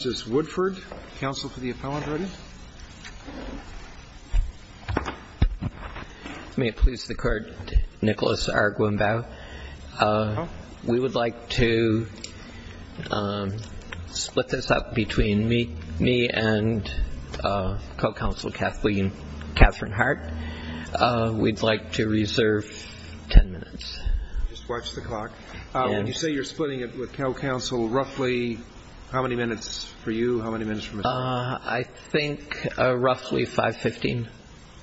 May it please the court, Nicholas R. Gwimbau. We would like to split this up between me and co-counsel Katherine Hart. We'd like to reserve 10 minutes. Just watch the clock. When you say you're splitting it with co-counsel, roughly how many minutes for you? How many minutes for Ms. Hart? I think roughly 5.15.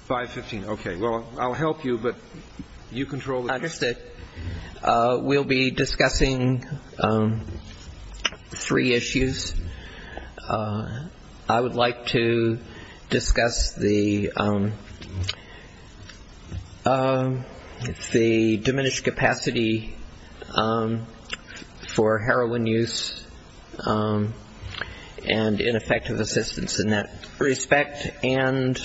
5.15, okay. Well, I'll help you, but you control the time. We'll be discussing three issues. I would like to discuss the diminished capacity for heroin use and ineffective assistance in that respect, and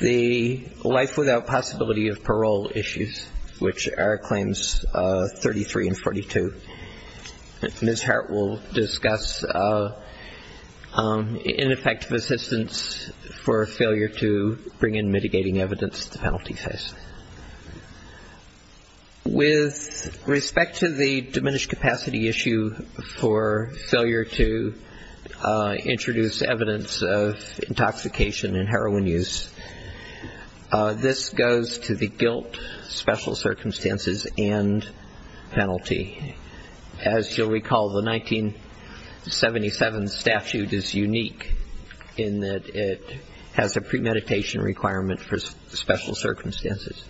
the life without possibility of parole issues. Which are claims 33 and 42. Ms. Hart will discuss ineffective assistance for failure to bring in mitigating evidence at the penalty phase. With respect to the diminished capacity issue for failure to introduce evidence of intoxication and heroin use, this goes to the guilt, special circumstances, and penalty. As you'll recall, the 1977 statute is unique in that it has a premeditation requirement for special circumstances.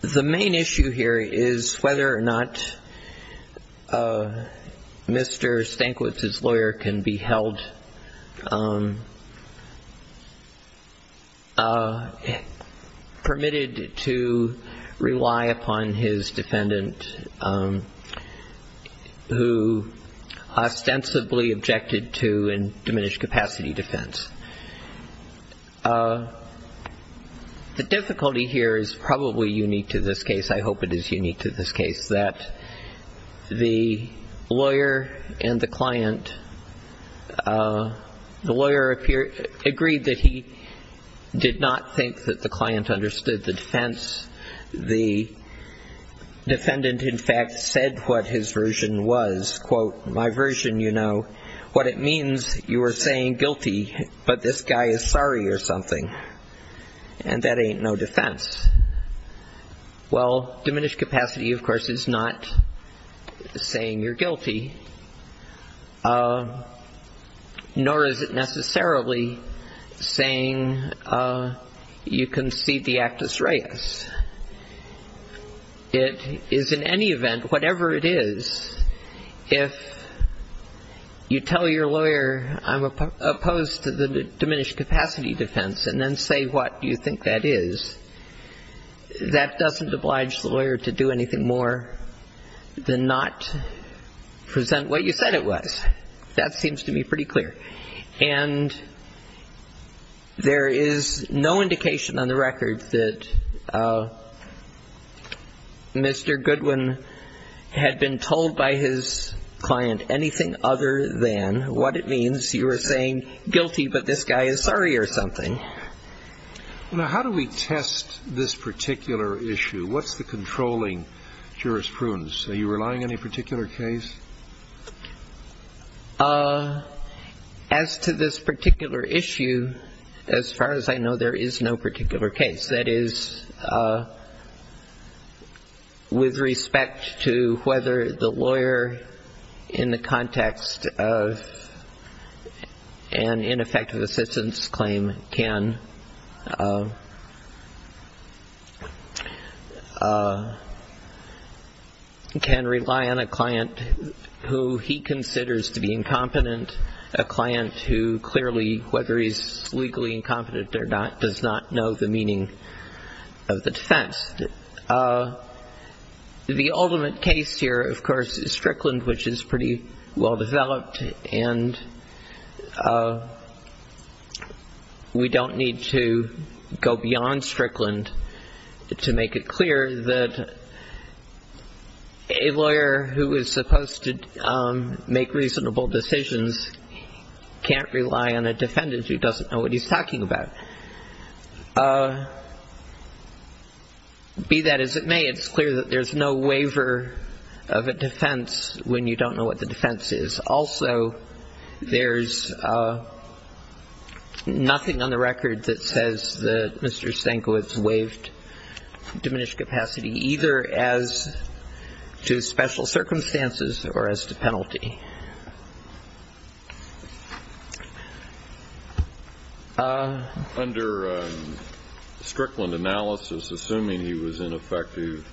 The main issue here is whether or not Mr. Stankiewicz's lawyer can be held, permitted to rely upon his defendant who ostensibly objected to a diminished capacity defense. The difficulty here is probably unique to this case, I hope it is unique to this case, that the lawyer and the client, the lawyer agreed that he did not think that the client understood the defense. The defendant, in fact, said what his version was. Quote, my version, you know, what it means, you are saying guilty, but this guy is sorry or something. And that ain't no defense. Well, diminished capacity, of course, is not saying you're guilty. Nor is it necessarily saying you concede the actus reus. It is in any event, whatever it is, if you tell your lawyer I'm opposed to the diminished capacity defense and then say what you think that is, that doesn't oblige the lawyer to do anything more than not present what you said it was. That seems to me pretty clear. And there is no indication on the record that Mr. Goodwin had been told by his client anything other than what it means, you are saying guilty, but this guy is sorry or something. Now, how do we test this particular issue? What's the controlling jurisprudence? Are you relying on any particular case? As to this particular issue, as far as I know, there is no particular case. That is, with respect to whether the lawyer, in the context of an ineffective assistance claim, can rely on a client that is not a defendant. Who he considers to be incompetent, a client who clearly, whether he's legally incompetent or not, does not know the meaning of the defense. The ultimate case here, of course, is Strickland, which is pretty well developed, and we don't need to go beyond Strickland to make it clear that a lawyer who is supposed to make reasonable decisions can't rely on a defendant who doesn't know what he's talking about. Be that as it may, it's clear that there's no waiver of a defense when you don't know what the defense is. Also, there's nothing on the record that says that Mr. Stankiewicz waived diminished capacity, either as to special circumstances or as to penalty. Under Strickland analysis, assuming he was ineffective,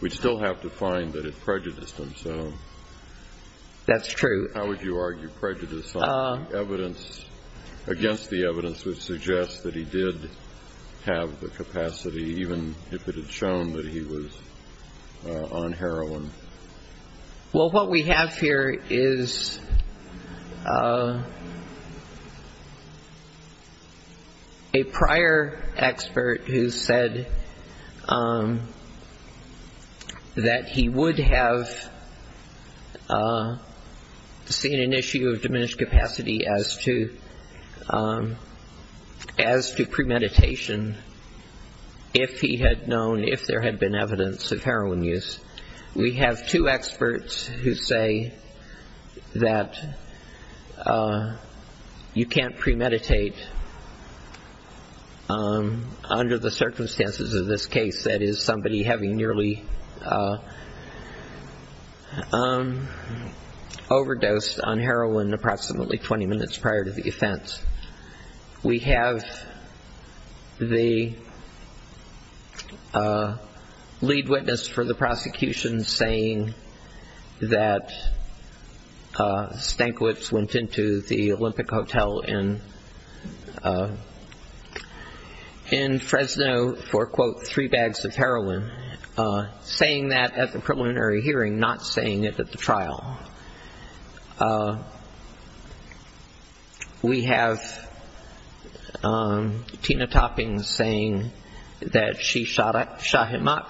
we'd still have to find that it prejudiced him, so how would you argue prejudice against the evidence which suggests that he did have the capacity, even if it had shown that he was on heroin? Well, what we have here is a prior expert who said that he would have seen an issue of diminished capacity as to premeditation if he had known, if there had been evidence of heroin use. We have two experts who say that you can't premeditate under the circumstances of this case, that is, somebody having nearly overdosed on heroin approximately 20 minutes prior to the offense. We have the lead witness for the prosecution saying that Stankiewicz went into the Olympic Hotel in Fresno for, quote, three bags of heroin, saying that at the preliminary hearing, not saying it at the trial. We have Tina Topping saying that she shot him up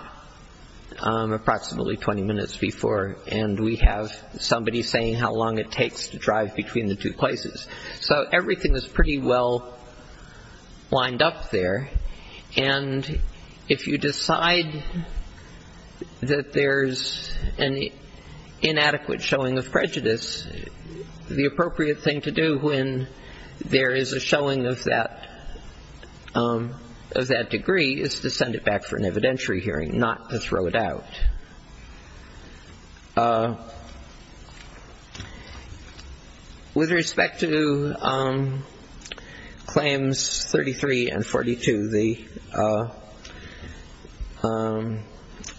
approximately 20 minutes before, and we have somebody saying how long it takes to drive between the two places. So everything is pretty well lined up there, and if you decide that there's an inadequate showing of prejudice, the appropriate thing to do when there is a showing of that degree is to send it back for an evidentiary hearing, not to throw it out. With respect to claims 33 and 42, the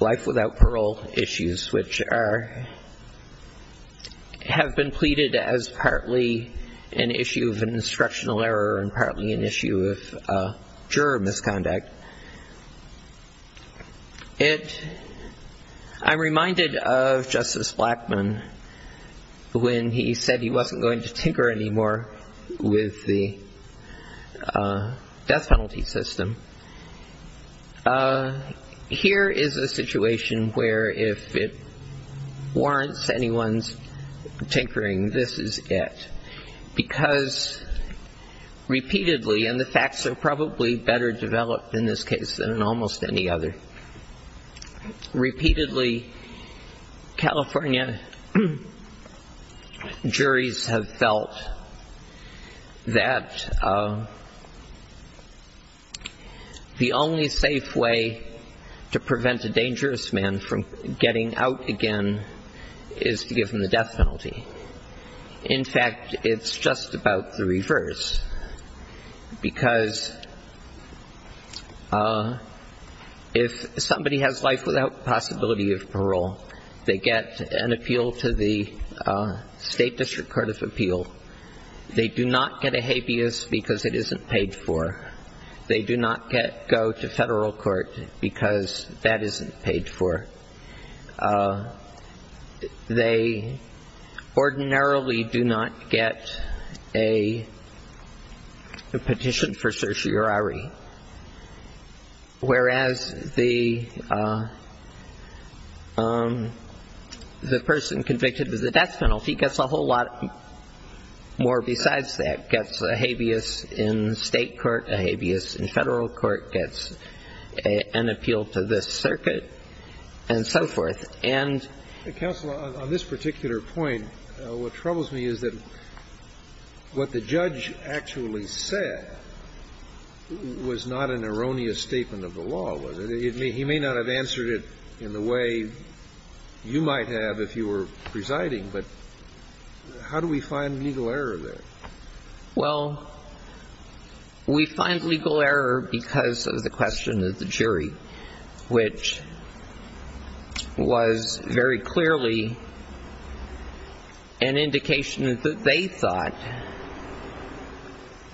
life without parole issues, which are, have been pleaded as partly an issue of an instructional error and partly an issue of juror misconduct. I'm reminded of Justice Blackmun when he said he wasn't going to tinker anymore with the death penalty system. Here is a situation where if it warrants anyone's tinkering, this is it, because repeatedly, and the facts are probably better developed in this case than in almost any other. Repeatedly, California juries have felt that the only safe way to prevent a dangerous man from getting out again is to give him the death penalty. In fact, it's just about the reverse, because if somebody has life without possibility of parole, they get an appeal to the State District Court of Appeal. They do not get a habeas because it isn't paid for. They do not go to federal court because that isn't paid for. They ordinarily do not get a petition for certiorari, whereas the person convicted of the death penalty gets a whole lot more besides that, gets a habeas in state court, a habeas in federal court, gets an appeal to this circuit. And so forth. And... Counsel, on this particular point, what troubles me is that what the judge actually said was not an erroneous statement of the law, was it? He may not have answered it in the way you might have if you were presiding, but how do we find legal error there? Well, we find legal error because of the question of the jury, which was very clearly an indication that they thought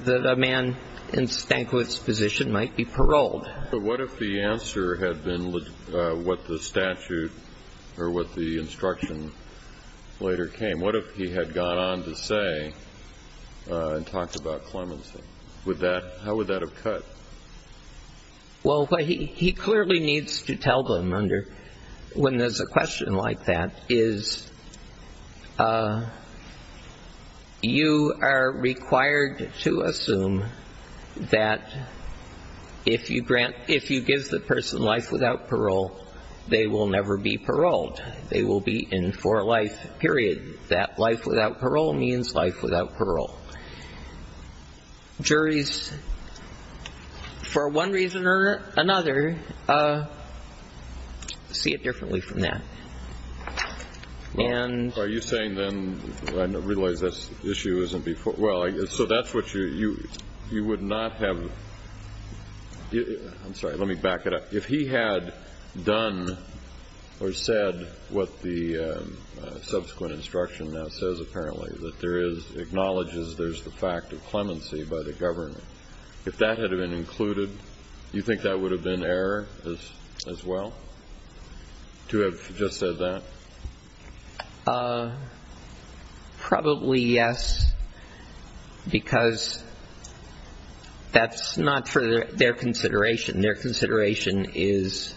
that a man in Stankiewicz's position might be paroled. But what if the answer had been what the statute or what the instruction later came? What if he had gone on to say and talked about clemency? How would that have cut? Well, what he clearly needs to tell them when there's a question like that is you are required to assume that if you give the person life without parole, they will never be paroled. They will be in for life, period. That life without parole means life without parole. Juries, for one reason or another, see it differently from that. And... Are you saying then, I realize this issue isn't before... Well, so that's what you would not have... I'm sorry. Let me back it up. If he had done or said what the subsequent instruction now says apparently, that there is, acknowledges there's the fact of clemency by the government, if that had been included, do you think that would have been error as well, to have just said that? Probably yes, because that's not for their consideration. Their consideration is...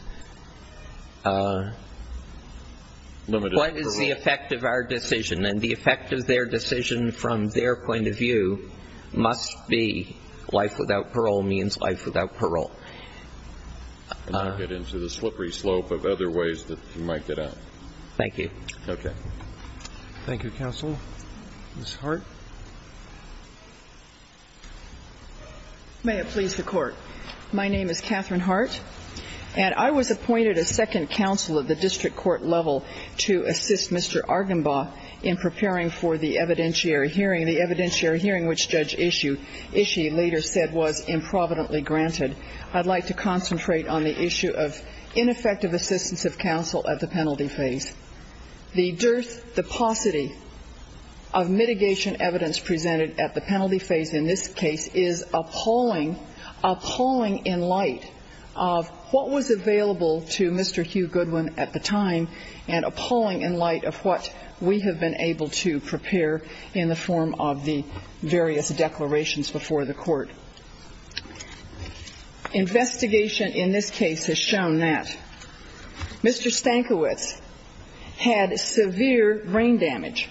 What is the effect of our decision? And the effect of their decision from their point of view must be life without parole means life without parole. And not get into the slippery slope of other ways that you might get out. Thank you. Okay. Thank you, counsel. Ms. Hart? May it please the Court. My name is Catherine Hart. And I was appointed as second counsel at the district court level to assist Mr. Argenbaugh in preparing for the evidentiary hearing. The evidentiary hearing, which Judge Ishii later said was improvidently granted. I'd like to concentrate on the issue of ineffective assistance of counsel at the penalty phase. The dearth, the paucity of mitigation evidence presented at the penalty phase in this case is appalling, appalling in light of what was available to Mr. Hugh Goodwin at the time. And appalling in light of what we have been able to prepare in the form of the various declarations before the court. Investigation in this case has shown that Mr. Stankiewicz had severe brain damage.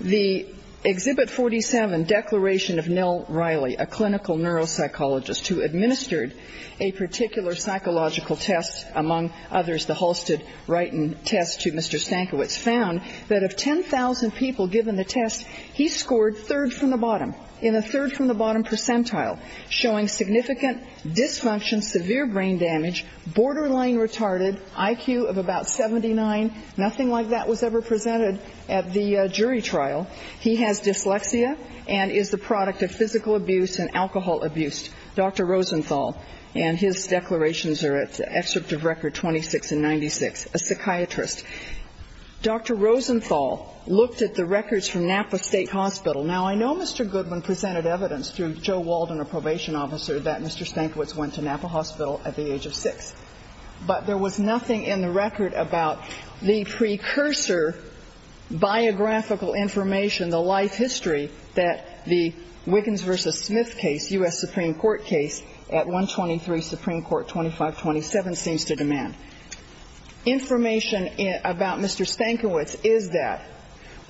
The Exhibit 47 declaration of Nell Riley, a clinical neuropsychologist who administered a particular psychological test, among others the Halstead-Wrighton test to Mr. Stankiewicz, found that of 10,000 people given the test, he scored third from the bottom in a third-from-the-bottom percentile, showing significant dysfunction, severe brain damage, borderline retarded, IQ of about 79. Nothing like that was ever presented at the jury trial. He has dyslexia and is the product of physical abuse and alcohol abuse. Dr. Rosenthal and his declarations are at the excerpt of Record 26 and 96, a psychiatrist. Dr. Rosenthal looked at the records from Napa State Hospital. Now, I know Mr. Goodwin presented evidence through Joe Walden, a probation officer, that Mr. Stankiewicz went to Napa Hospital at the age of 6. But there was nothing in the record about the precursor biographical information, the life history that the Wiggins v. Smith case, U.S. Supreme Court case at 123 Supreme Court 2527, seems to demand. Information about Mr. Stankiewicz is that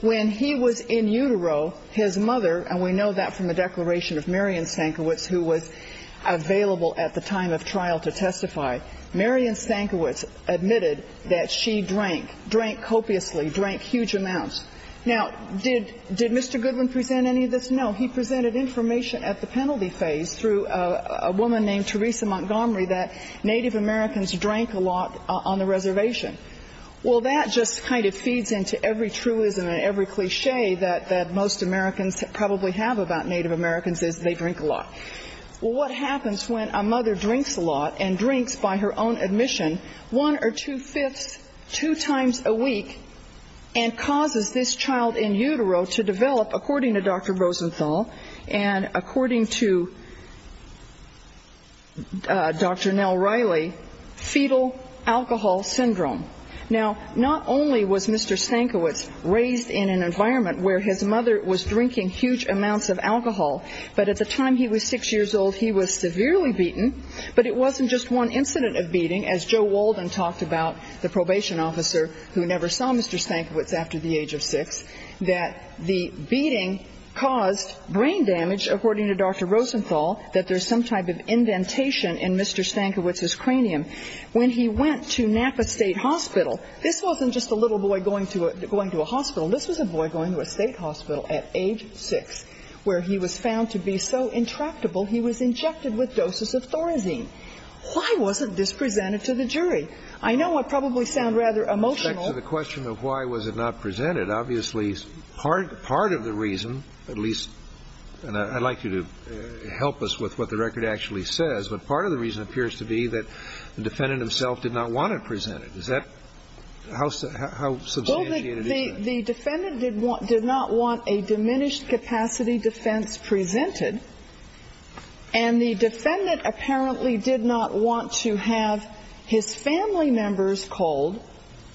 when he was in utero, his mother, and we know that from the declaration of Marion Stankiewicz, who was available at the time of trial to testify, Marion Stankiewicz admitted that she drank, drank copiously, drank huge amounts. Now, did Mr. Goodwin present any of this? No. He presented information at the penalty phase through a woman named Teresa Montgomery that Native Americans drank a lot on the reservation. Well, that just kind of feeds into every truism and every cliché that most Americans probably have about Native Americans is they drink a lot. Well, what happens when a mother drinks a lot and drinks, by her own admission, one or two-fifths two times a week and causes this child in utero to develop, according to Dr. Rosenthal and according to Dr. Nell Riley, fetal alcohol syndrome? Now, not only was Mr. Stankiewicz raised in an environment where his mother was drinking huge amounts of alcohol, but at the time he was six years old, he was severely beaten, but it wasn't just one incident of beating, as Joe Walden talked about, the probation officer who never saw Mr. Stankiewicz after the age of six, that the beating caused brain damage, according to Dr. Rosenthal, that there's some type of indentation in Mr. Stankiewicz's cranium. When he went to Napa State Hospital, this wasn't just a little boy going to a hospital. This was a boy going to a state hospital at age six where he was found to be so intractable he was injected with doses of Thorazine. himself did not want it presented. Why wasn't this presented to the jury? I know I probably sound rather emotional. In respect to the question of why was it not presented, obviously part of the reason, at least, and I'd like you to help us with what the record actually says, but part of the reason appears to be that the defendant himself did not want it presented. How substantiated is that? Well, the defendant did not want a diminished capacity defense presented, and the defendant apparently did not want to have his family members called.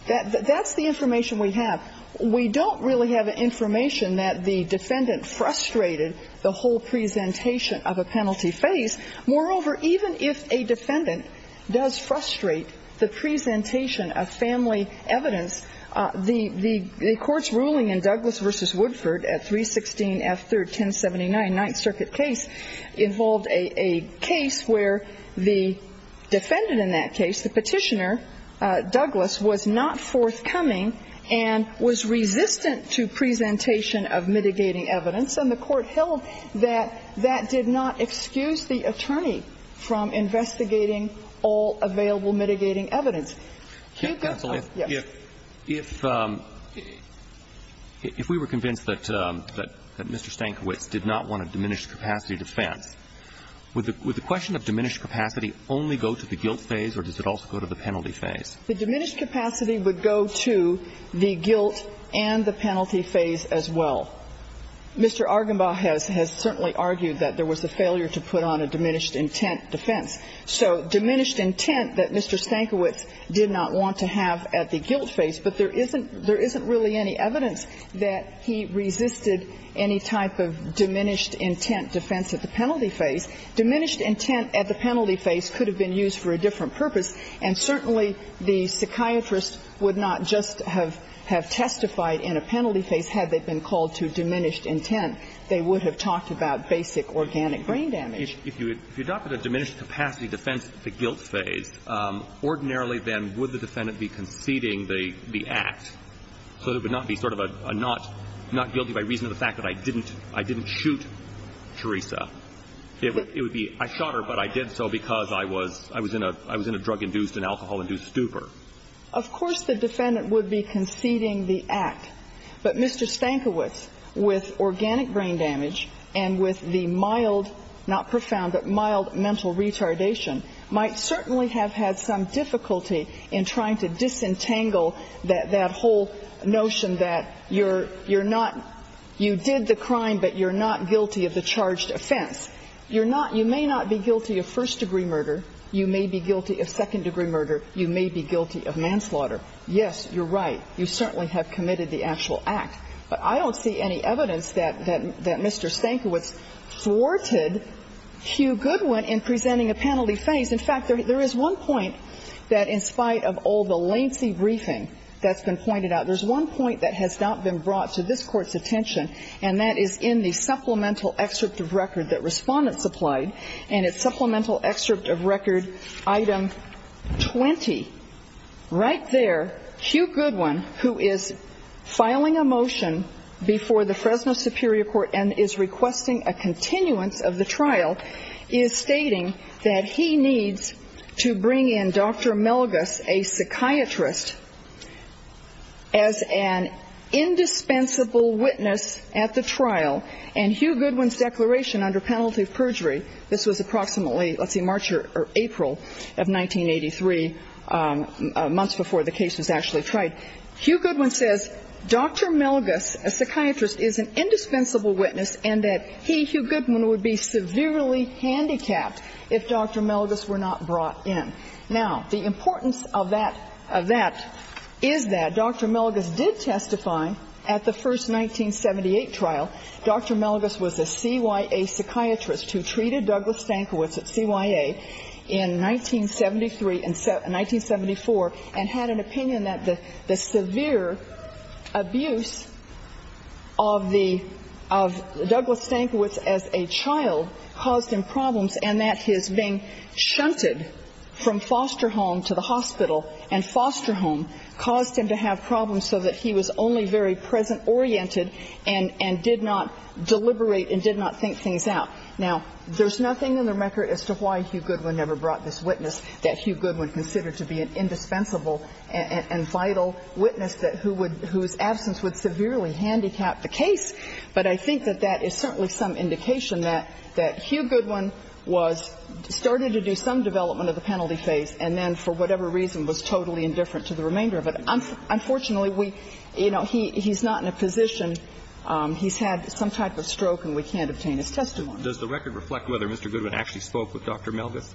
That's the information we have. We don't really have information that the defendant frustrated the whole presentation of a penalty phase. Moreover, even if a defendant does frustrate the presentation of family evidence, the Court's ruling in Douglas v. Woodford at 316 F. 3rd 1079, Ninth Circuit case, involved a case where the defendant in that case, the petitioner, Douglas, was not forthcoming and was resistant to presentation of mitigating evidence, and the Court held that that did not excuse the attorney from investigating all available mitigating evidence. Counsel, if we were convinced that Mr. Stankiewicz did not want a diminished capacity defense, would the question of diminished capacity only go to the guilt phase or does it also go to the penalty phase? The diminished capacity would go to the guilt and the penalty phase as well. Mr. Argenbaugh has certainly argued that there was a failure to put on a diminished intent defense. So diminished intent that Mr. Stankiewicz did not want to have at the guilt phase, but there isn't really any evidence that he resisted any type of diminished intent defense at the penalty phase. Diminished intent at the penalty phase could have been used for a different purpose, and certainly the psychiatrist would not just have testified in a penalty phase had they been called to diminished intent. They would have talked about basic organic brain damage. If you adopted a diminished capacity defense at the guilt phase, ordinarily then would the defendant be conceding the act? So it would not be sort of a not guilty by reason of the fact that I didn't shoot Teresa. It would be I shot her, but I did so because I was in a drug-induced and alcohol-induced Of course the defendant would be conceding the act. But Mr. Stankiewicz, with organic brain damage and with the mild, not profound, but mild mental retardation, might certainly have had some difficulty in trying to disentangle that whole notion that you're not you did the crime, but you're not guilty of the charged offense. You're not you may not be guilty of first-degree murder. You may be guilty of second-degree murder. You may be guilty of manslaughter. Yes, you're right. You certainly have committed the actual act. But I don't see any evidence that Mr. Stankiewicz thwarted Hugh Goodwin in presenting a penalty phase. In fact, there is one point that, in spite of all the lancy briefing that's been pointed out, there's one point that has not been brought to this Court's attention, and that is in the supplemental excerpt of record that Respondents applied. And it's supplemental excerpt of record item 20. Right there, Hugh Goodwin, who is filing a motion before the Fresno Superior Court and is requesting a continuance of the trial, is stating that he needs to bring in Dr. Melgus, a psychiatrist, as an indispensable witness at the trial. And Hugh Goodwin's declaration under penalty of perjury, this was approximately, let's see, March or April of 1983, months before the case was actually tried. Hugh Goodwin says Dr. Melgus, a psychiatrist, is an indispensable witness and that he, Hugh Goodwin, would be severely handicapped if Dr. Melgus were not brought in. Now, the importance of that is that Dr. Melgus did testify at the first 1978 trial. Dr. Melgus was a CYA psychiatrist who treated Douglas Stankiewicz at CYA in 1973 and 1974 and had an opinion that the severe abuse of the ‑‑ of Douglas Stankiewicz as a child caused him problems and that his being shunted from foster home to the hospital and foster home caused him to have problems so that he was only very present‑oriented and did not deliberate and did not think things out. Now, there's nothing in the record as to why Hugh Goodwin never brought this witness that Hugh Goodwin considered to be an indispensable and vital witness that who would ‑‑ whose absence would severely handicap the case, but I think that that is certainly some indication that Hugh Goodwin was ‑‑ started to do some development of the penalty phase and then for whatever reason was totally indifferent to the remainder of it. Unfortunately, we ‑‑ you know, he's not in a position, he's had some type of stroke and we can't obtain his testimony. Does the record reflect whether Mr. Goodwin actually spoke with Dr. Melgus?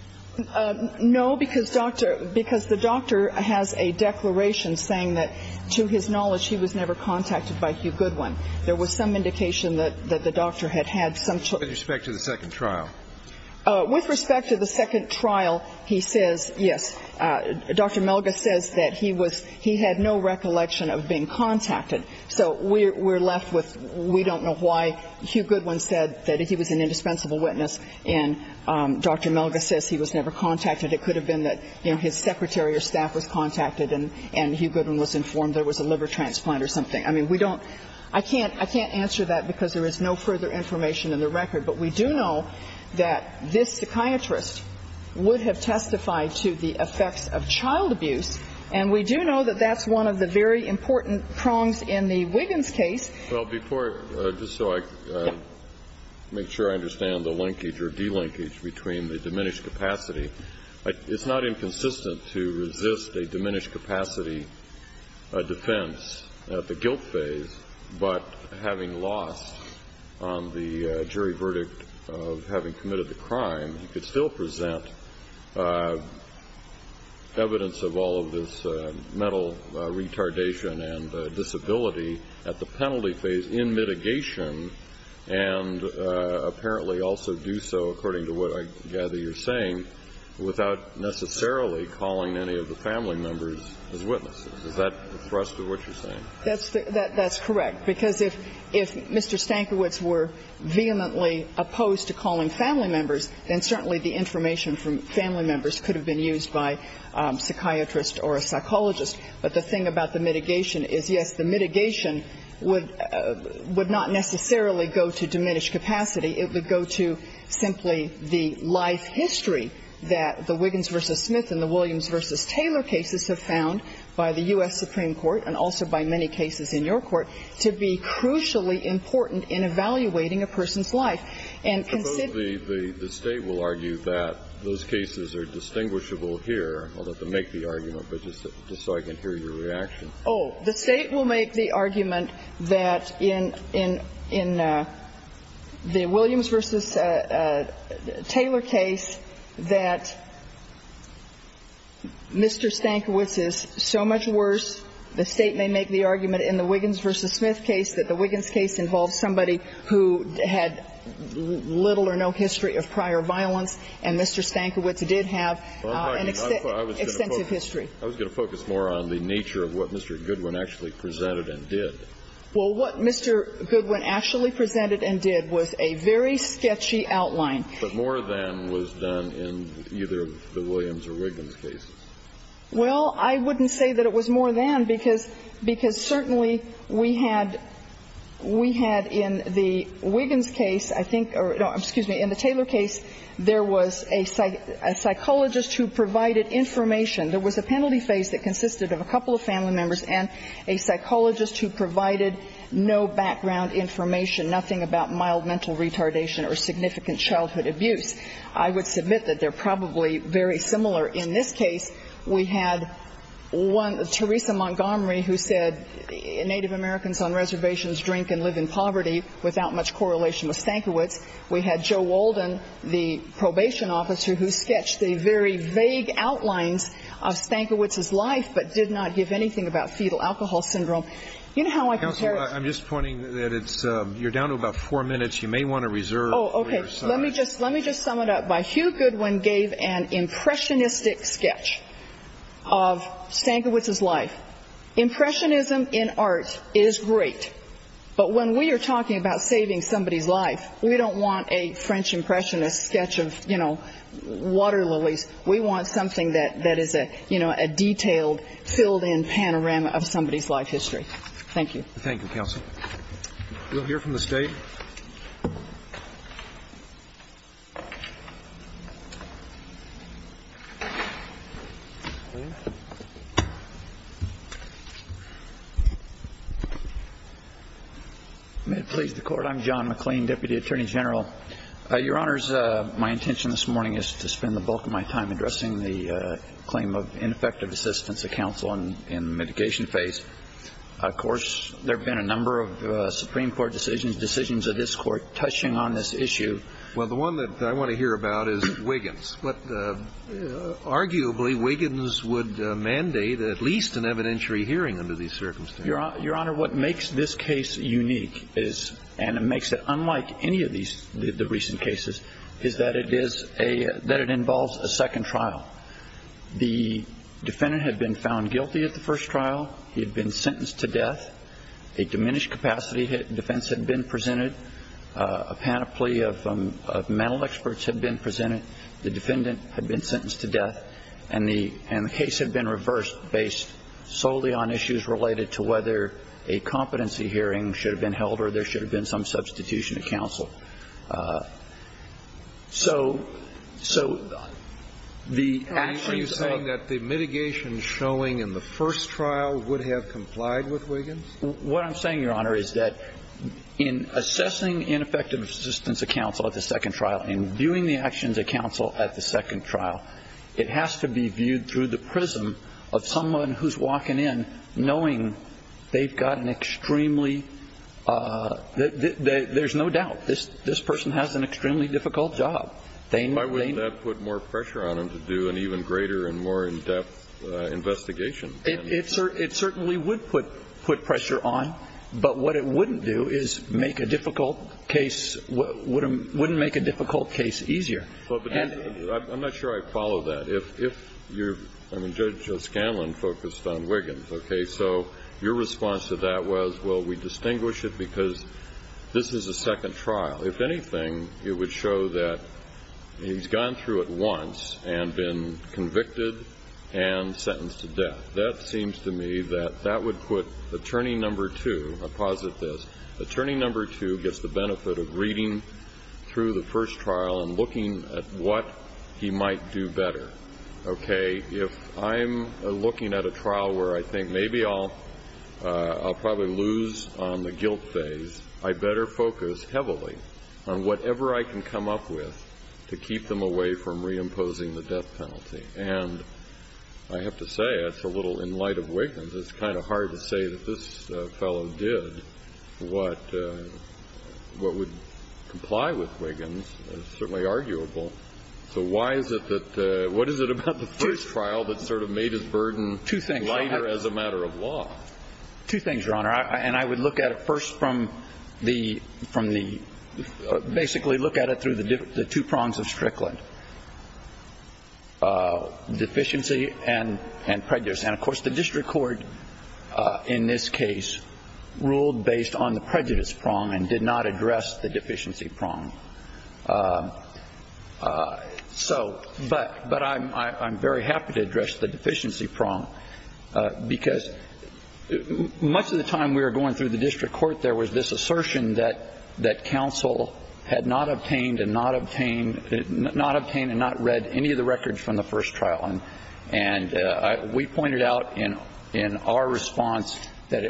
No, because the doctor has a declaration saying that to his knowledge he was never contacted by Hugh Goodwin. There was some indication that the doctor had had some ‑‑ With respect to the second trial? With respect to the second trial, he says yes. Dr. Melgus says that he was ‑‑ he had no recollection of being contacted. So we're left with ‑‑ we don't know why Hugh Goodwin said that he was an indispensable witness and Dr. Melgus says he was never contacted. It could have been that, you know, his secretary or staff was contacted and Hugh Goodwin was informed there was a liver transplant or something. I mean, we don't ‑‑ I can't ‑‑ I can't answer that because there is no further information in the record. But we do know that this psychiatrist would have testified to the effects of child abuse and we do know that that's one of the very important prongs in the Wiggins case. Well, before, just so I can make sure I understand the linkage or delinkage between the diminished capacity, it's not inconsistent to resist a diminished capacity defense at the guilt phase, but having lost on the jury verdict of having committed the crime, he could still present evidence of all of this mental retardation and disability at the penalty phase in mitigation and apparently also do so, according to what I gather you're saying, without necessarily calling any of the family members as witnesses. Is that the thrust of what you're saying? That's correct. Because if Mr. Stankiewicz were vehemently opposed to calling family members, then certainly the information from family members could have been used by a psychiatrist or a psychologist. But the thing about the mitigation is, yes, the mitigation would not necessarily go to diminished capacity. It would go to simply the life history that the Wiggins v. Smith and the Williams v. Taylor cases have found by the U.S. Supreme Court and also by many cases in your Court to be crucially important in evaluating a person's life. And consider the state will argue that those cases are distinguishable here. I'll let them make the argument, but just so I can hear your reaction. Oh, the state will make the argument that in the Williams v. Taylor case that Mr. Stankiewicz is so much worse, the state may make the argument in the Wiggins v. Smith case that the Wiggins case involves somebody who had little or no history of prior violence, and Mr. Stankiewicz did have an extensive history. I was going to focus more on the nature of what Mr. Goodwin actually presented and did. Well, what Mr. Goodwin actually presented and did was a very sketchy outline. But more than was done in either the Williams or Wiggins cases. Well, I wouldn't say that it was more than, because certainly we had in the Wiggins case, I think, or excuse me, in the Taylor case, there was a psychologist who provided information. There was a penalty phase that consisted of a couple of family members and a psychologist who provided no background information, nothing about mild mental retardation or significant childhood abuse. I would submit that they're probably very similar. In this case, we had one, Teresa Montgomery, who said Native Americans on reservations drink and live in poverty without much correlation with Stankiewicz. We had Joe Walden, the probation officer, who sketched the very vague outlines of Stankiewicz's life but did not give anything about fetal alcohol syndrome. You know how I compare it? Counsel, I'm just pointing that you're down to about four minutes. You may want to reserve for your side. Oh, okay. Let me just sum it up. Hugh Goodwin gave an impressionistic sketch of Stankiewicz's life. Impressionism in art is great, but when we are talking about saving somebody's life, we don't want a French impressionist sketch of, you know, water lilies. We want something that is a detailed, filled-in panorama of somebody's life history. Thank you. Thank you, counsel. We'll hear from the State. May it please the Court. I'm John McLean, Deputy Attorney General. Your Honors, my intention this morning is to spend the bulk of my time addressing the claim of ineffective assistance to counsel in the mitigation phase. Of course, there have been a number of Supreme Court decisions, decisions of this Court, touching on this issue. Well, the one that I want to hear about is Wiggins. Arguably, Wiggins would mandate at least an evidentiary hearing under these circumstances. Your Honor, what makes this case unique, and it makes it unlike any of the recent cases, is that it involves a second trial. The defendant had been found guilty at the first trial. He had been sentenced to death. A diminished-capacity defense had been presented. A panoply of mental experts had been presented. The defendant had been sentenced to death. And the case had been reversed based solely on issues related to whether a competency hearing should have been held or there should have been some substitution of counsel. So the actions of the first trial would have complied with Wiggins? What I'm saying, Your Honor, is that in assessing ineffective assistance of counsel at the second trial and viewing the actions of counsel at the second trial, it has to be viewed through the prism of someone who's walking in knowing they've got an extremely – there's no doubt this person has an extremely difficult job. Why wouldn't that put more pressure on them to do an even greater and more in-depth investigation? It certainly would put pressure on, but what it wouldn't do is make a difficult case – wouldn't make a difficult case easier. I'm not sure I follow that. If you're – I mean, Judge Scanlon focused on Wiggins, okay? So your response to that was, well, we distinguish it because this is a second trial. If anything, it would show that he's gone through it once and been convicted and sentenced to death. That seems to me that that would put attorney number two – I'll posit this. Attorney number two gets the benefit of reading through the first trial and looking at what he might do better, okay? If I'm looking at a trial where I think maybe I'll probably lose on the guilt phase, I better focus heavily on whatever I can come up with to keep them away from I have to say, it's a little in light of Wiggins. It's kind of hard to say that this fellow did what would comply with Wiggins. It's certainly arguable. So why is it that – what is it about the first trial that sort of made his burden lighter as a matter of law? Two things, Your Honor. And I would look at it first from the – basically look at it through the two prongs of Strickland. Deficiency and prejudice. And, of course, the district court in this case ruled based on the prejudice prong and did not address the deficiency prong. So – but I'm very happy to address the deficiency prong because much of the time we were going through the district court, there was this assertion that counsel had not obtained and not read any of the records from the first trial. And we pointed out in our response that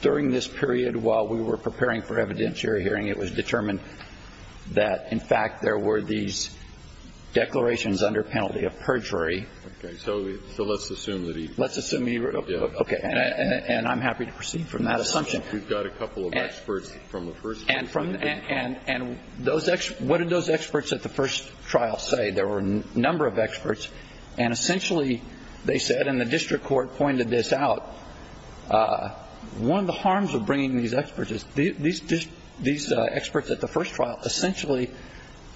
during this period while we were preparing for evidentiary hearing, it was determined that, in fact, there were these declarations under penalty of perjury. Okay. So let's assume that he – Let's assume he – Yeah. Okay. And I'm happy to proceed from that assumption. We've got a couple of experts from the first trial. And from – and those – what did those experts at the first trial say? There were a number of experts. And essentially they said, and the district court pointed this out, one of the harms of bringing these experts is these experts at the first trial essentially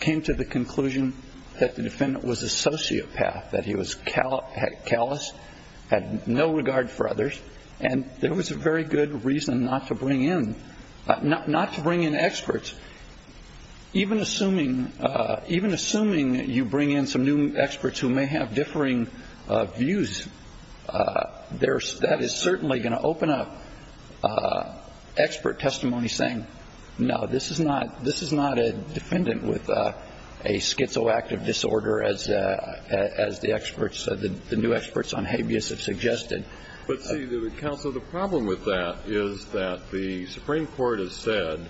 came to the conclusion that the defendant was a sociopath, that he was callous, had no regard for others, and there was a very good reason not to bring in – not to bring in experts. Even assuming you bring in some new experts who may have differing views, that is certainly going to open up expert testimony saying, no, this is not a defendant with a schizoactive disorder, as the experts, the new experts on habeas have suggested. But, see, counsel, the problem with that is that the Supreme Court has said,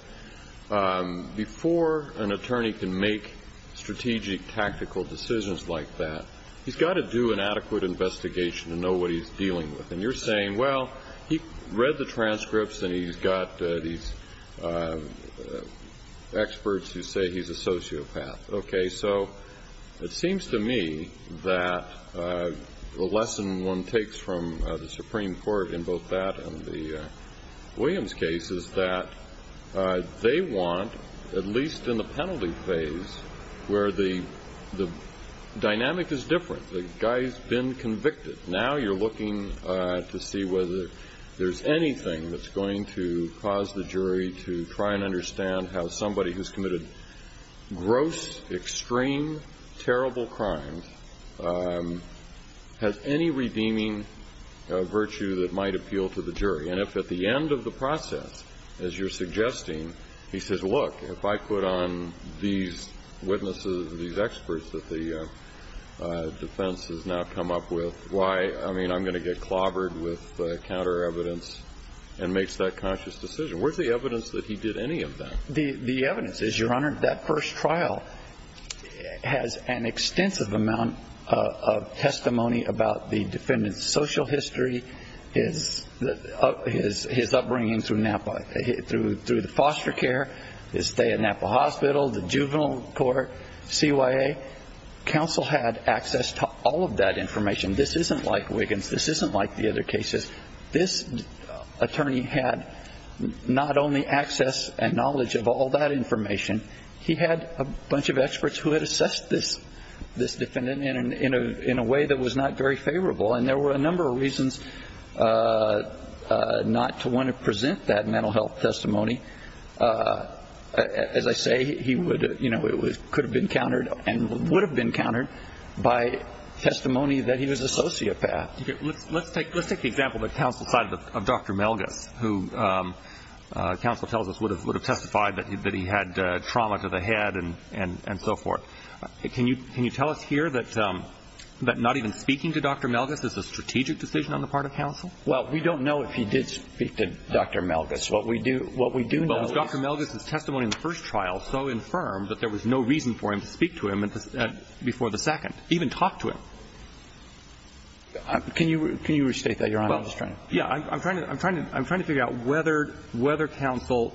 before an attorney can make strategic tactical decisions like that, he's got to do an adequate investigation to know what he's dealing with. And you're saying, well, he read the transcripts and he's got these experts who say he's a sociopath. Okay, so it seems to me that the lesson one takes from the Supreme Court in both that and the Williams case is that they want, at least in the penalty phase, where the dynamic is different. The guy's been convicted. Now you're looking to see whether there's anything that's going to cause the jury to try and understand how somebody who's committed gross, extreme, terrible crimes has any redeeming virtue that might appeal to the jury. And if at the end of the process, as you're suggesting, he says, look, if I put on these witnesses, these experts that the defense has now come up with, why, I mean, I'm going to get clobbered with counter-evidence and makes that conscious decision. Where's the evidence that he did any of that? The evidence is, Your Honor, that first trial has an extensive amount of testimony about the defendant's social history, his upbringing through the foster care, his stay at Napa Hospital, the juvenile court, CYA. Counsel had access to all of that information. This isn't like Wiggins. This isn't like the other cases. This attorney had not only access and knowledge of all that information, he had a bunch of experts who had assessed this defendant in a way that was not very favorable. And there were a number of reasons not to want to present that mental health testimony. As I say, he could have been countered and would have been countered by testimony that he was a sociopath. Let's take the example of the counsel side of Dr. Melgis, who counsel tells us would have testified that he had trauma to the head and so forth. Can you tell us here that not even speaking to Dr. Melgis is a strategic decision on the part of counsel? Well, we don't know if he did speak to Dr. Melgis. What we do know is Dr. Melgis' testimony in the first trial so infirm that there was no reason for him to speak to him before the second, even talk to him. Can you restate that, Your Honor? Well, yeah. I'm trying to figure out whether counsel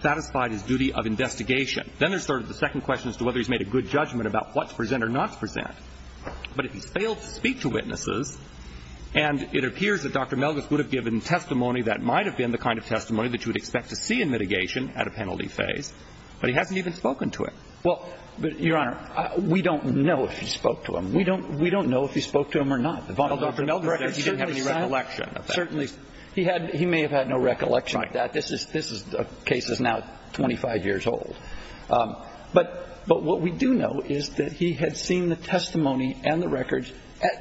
satisfied his duty of investigation. Then there's sort of the second question as to whether he's made a good judgment about what to present or not to present. But if he's failed to speak to witnesses and it appears that Dr. Melgis would have given testimony that might have been the kind of testimony that you would expect to see in mitigation at a penalty phase, but he hasn't even spoken to him. Well, Your Honor, we don't know if he spoke to him. We don't know if he spoke to him or not. Dr. Melgis said he didn't have any recollection of that. He may have had no recollection of that. This case is now 25 years old. But what we do know is that he had seen the testimony and the records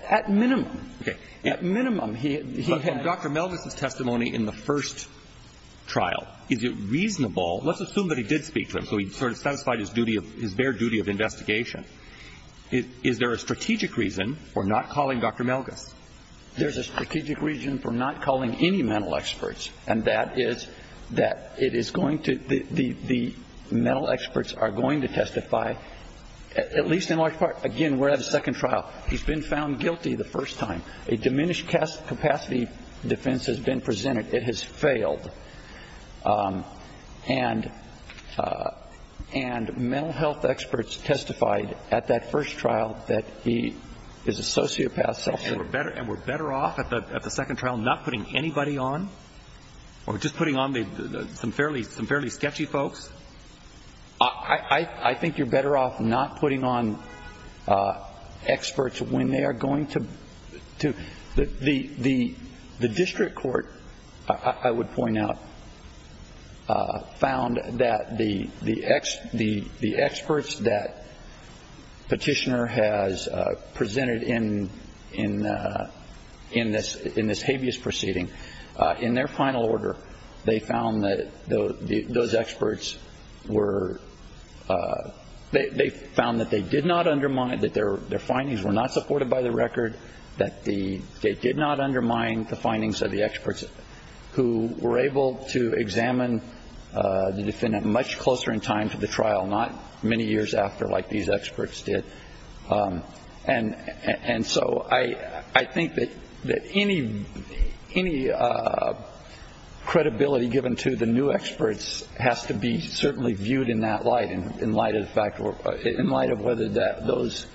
at minimum. Okay. At minimum. Dr. Melgis' testimony in the first trial, is it reasonable? Let's assume that he did speak to him, so he sort of satisfied his bare duty of investigation. Is there a strategic reason for not calling Dr. Melgis? There's a strategic reason for not calling any mental experts, and that is that it is going to – the mental experts are going to testify, at least in large part – again, we're at the second trial. He's been found guilty the first time. A diminished capacity defense has been presented. It has failed. And mental health experts testified at that first trial that he is a sociopath. And we're better off at the second trial not putting anybody on? Or just putting on some fairly sketchy folks? I think you're better off not putting on experts when they are going to – The district court, I would point out, found that the experts that Petitioner has presented in this habeas proceeding, in their final order, they found that those experts were – they found that they did not undermine – that their findings were not supported by the record, that they did not undermine the findings of the experts who were able to examine the defendant much closer in time to the trial, not many years after like these experts did. And so I think that any credibility given to the new experts has to be certainly viewed in that light, in light of the fact – in light of whether those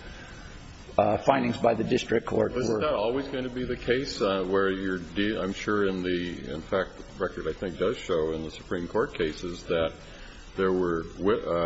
findings by the district court were – Isn't that always going to be the case where you're – I'm sure in the – in fact, the record I think does show in the Supreme Court cases that there were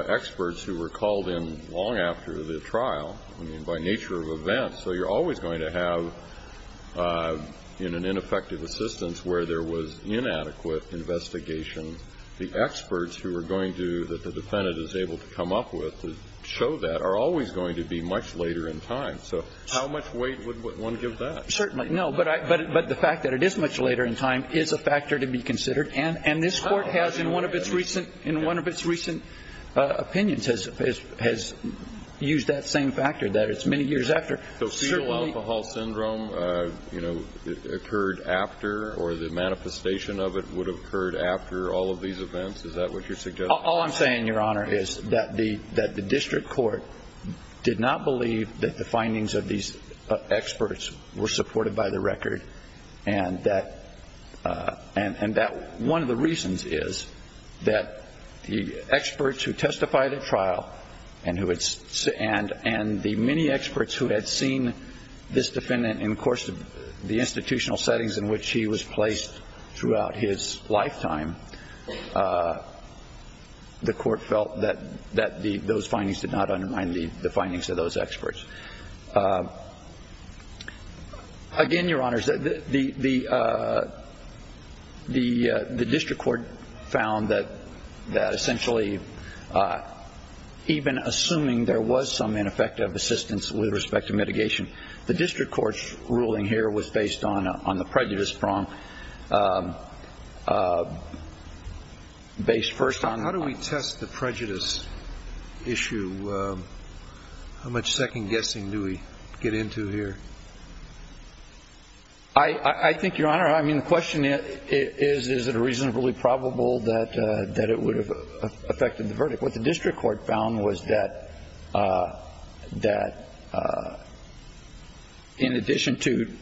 experts who were called in long after the trial, I mean, by nature of events. So you're always going to have, in an ineffective assistance, where there was inadequate investigation, the experts who are going to – that the defendant is able to come up with to show that are always going to be much later in time. So how much weight would one give that? Certainly. No, but I – but the fact that it is much later in time is a factor to be considered. And this Court has in one of its recent – in one of its recent opinions has used that same factor, that it's many years after. So fetal alcohol syndrome, you know, occurred after or the manifestation of it would have occurred after all of these events? Is that what you're suggesting? All I'm saying, Your Honor, is that the district court did not believe that the findings of these experts were supported by the record and that – and that one of the reasons is that the experts who testified at trial and who had – and the many experts who had seen this defendant in the course of the institutional settings in which he was placed throughout his lifetime, the Court felt that those findings did not undermine the findings of those experts. Again, Your Honors, the district court found that essentially even assuming there was some ineffective assistance with respect to mitigation, the district court's ruling here was based on the prejudice prong, based first on – How do we test the prejudice issue? How much second-guessing do we get into here? I think, Your Honor, I mean, the question is, is it reasonably probable that it would have affected the verdict? What the district court found was that in addition to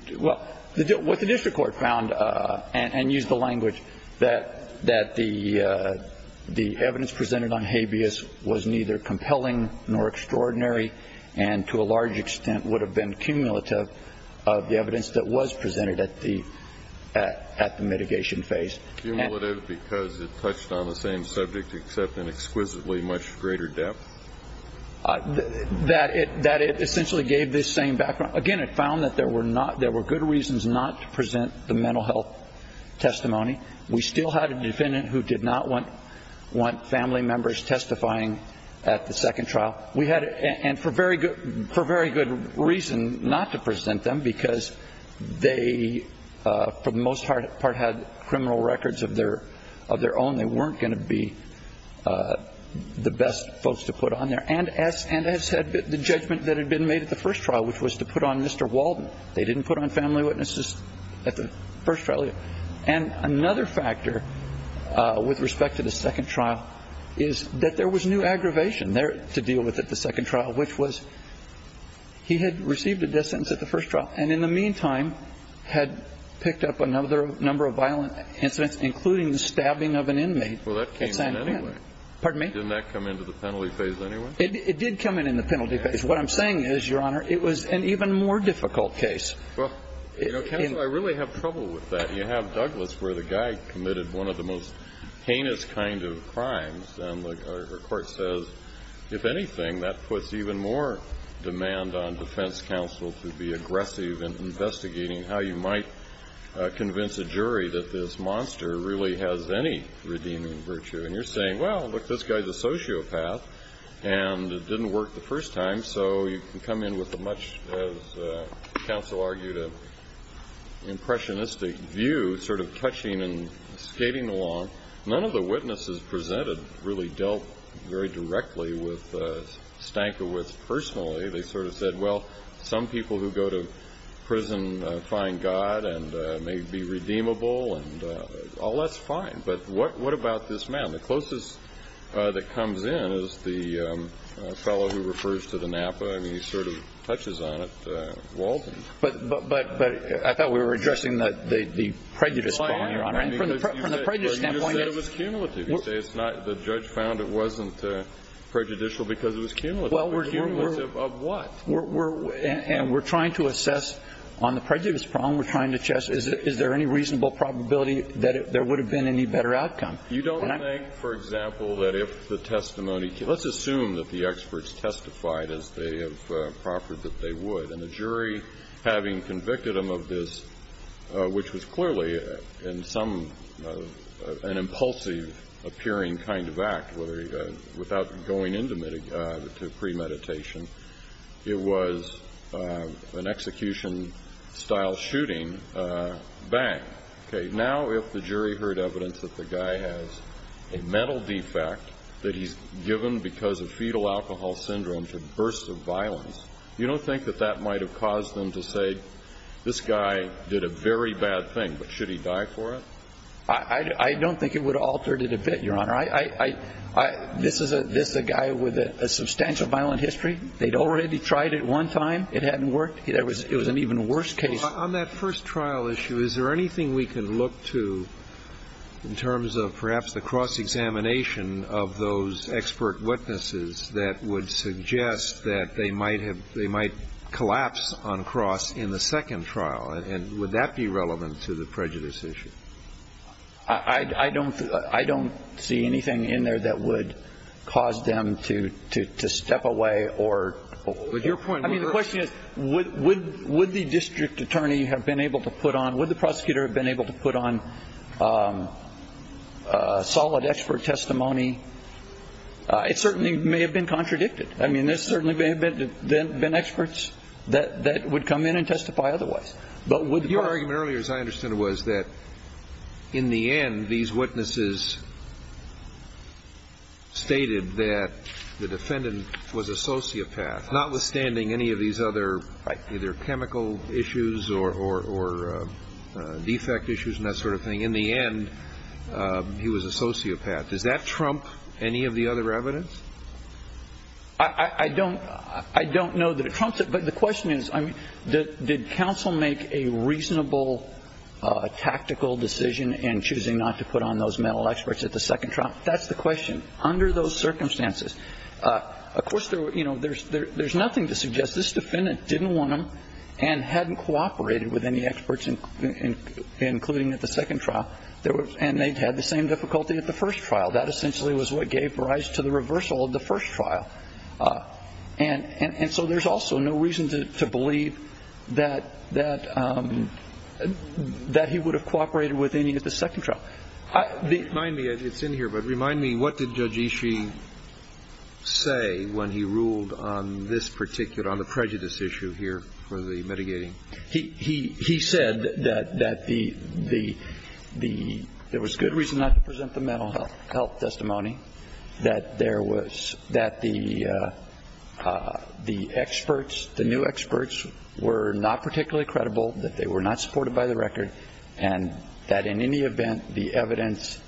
– well, what the district court found and used the language that the evidence presented on habeas was neither compelling nor extraordinary and to a large extent would have been cumulative of the evidence that was presented at the mitigation phase. Cumulative because it touched on the same subject except in exquisitely much greater depth? That it essentially gave this same background. Again, it found that there were good reasons not to present the mental health testimony. We still had a defendant who did not want family members testifying at the second trial. And for very good reason not to present them because they, for the most part, had criminal records of their own. They weren't going to be the best folks to put on there. And as the judgment that had been made at the first trial, which was to put on Mr. Walden, they didn't put on family witnesses at the first trial. And another factor with respect to the second trial is that there was new aggravation there to deal with at the second trial, which was he had received a death sentence at the first trial and in the meantime had picked up another number of violent incidents, including the stabbing of an inmate. Well, that came in anyway. Pardon me? Didn't that come into the penalty phase anyway? It did come in in the penalty phase. What I'm saying is, Your Honor, it was an even more difficult case. Well, you know, counsel, I really have trouble with that. You have Douglas where the guy committed one of the most heinous kind of crimes. And the Court says, if anything, that puts even more demand on defense counsel to be aggressive in investigating how you might convince a jury that this monster really has any redeeming virtue. And you're saying, well, look, this guy's a sociopath and it didn't work the first time, so you can come in with a much, as counsel argued, impressionistic view, sort of touching and skating along. None of the witnesses presented really dealt very directly with Stankiewicz personally. They sort of said, well, some people who go to prison find God and may be redeemable and all that's fine. But what about this man? The closest that comes in is the fellow who refers to the Napa. I mean, he sort of touches on it, Walden. But I thought we were addressing the prejudice problem, Your Honor. Well, I am. From the prejudice standpoint, yes. Well, you said it was cumulative. You say it's not the judge found it wasn't prejudicial because it was cumulative. Cumulative of what? And we're trying to assess on the prejudice problem. We're trying to assess is there any reasonable probability that there would have been any better outcome. You don't think, for example, that if the testimony, let's assume that the experts testified as they have proffered that they would. And the jury, having convicted them of this, which was clearly in some an impulsive appearing kind of act, without going into premeditation, it was an execution-style shooting, bang. Okay, now if the jury heard evidence that the guy has a mental defect that he's given because of fetal alcohol syndrome for bursts of violence, you don't think that that might have caused them to say, this guy did a very bad thing, but should he die for it? I don't think it would have altered it a bit, Your Honor. This is a guy with a substantial violent history. They'd already tried it one time. It hadn't worked. It was an even worse case. On that first trial issue, is there anything we can look to in terms of perhaps the cross-examination of those expert witnesses that would suggest that they might have they might collapse on cross in the second trial? And would that be relevant to the prejudice issue? I don't see anything in there that would cause them to step away or... I mean, the question is, would the district attorney have been able to put on, would the prosecutor have been able to put on solid expert testimony? It certainly may have been contradicted. I mean, there certainly may have been experts that would come in and testify otherwise. Your argument earlier, as I understand it, was that in the end, these witnesses stated that the defendant was a sociopath, notwithstanding any of these other either chemical issues or defect issues and that sort of thing. In the end, he was a sociopath. Does that trump any of the other evidence? I don't know that it trumps it, but the question is, did counsel make a reasonable tactical decision in choosing not to put on those mental experts at the second trial? That's the question under those circumstances. Of course, there's nothing to suggest this defendant didn't want them and hadn't cooperated with any experts, including at the second trial, and they'd had the same difficulty at the first trial. That essentially was what gave rise to the reversal of the first trial. And so there's also no reason to believe that he would have cooperated with any at the second trial. Remind me, it's in here, but remind me, what did Judge Ishii say when he ruled on this particular prejudice issue here for the mitigating? He said that there was good reason not to present the mental health testimony, that there was, that the experts, the new experts were not particularly credible, that they were not supported by the record, and that in any event the evidence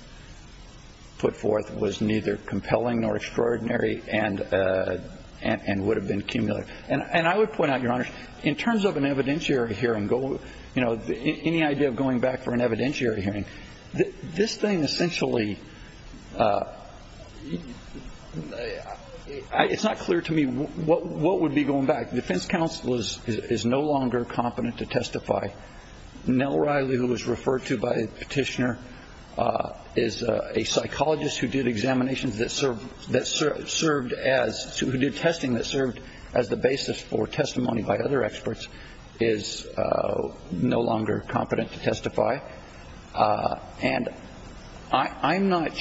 put forth was neither compelling nor extraordinary and would have been cumulative. And I would point out, Your Honor, in terms of an evidentiary hearing, any idea of going back for an evidentiary hearing, this thing essentially, it's not clear to me what would be going back. The defense counsel is no longer competent to testify. Nell Riley, who was referred to by the petitioner, is a psychologist who did examinations that served, who did testing that served as the basis for testimony by other experts, is no longer competent to testify. And I'm not,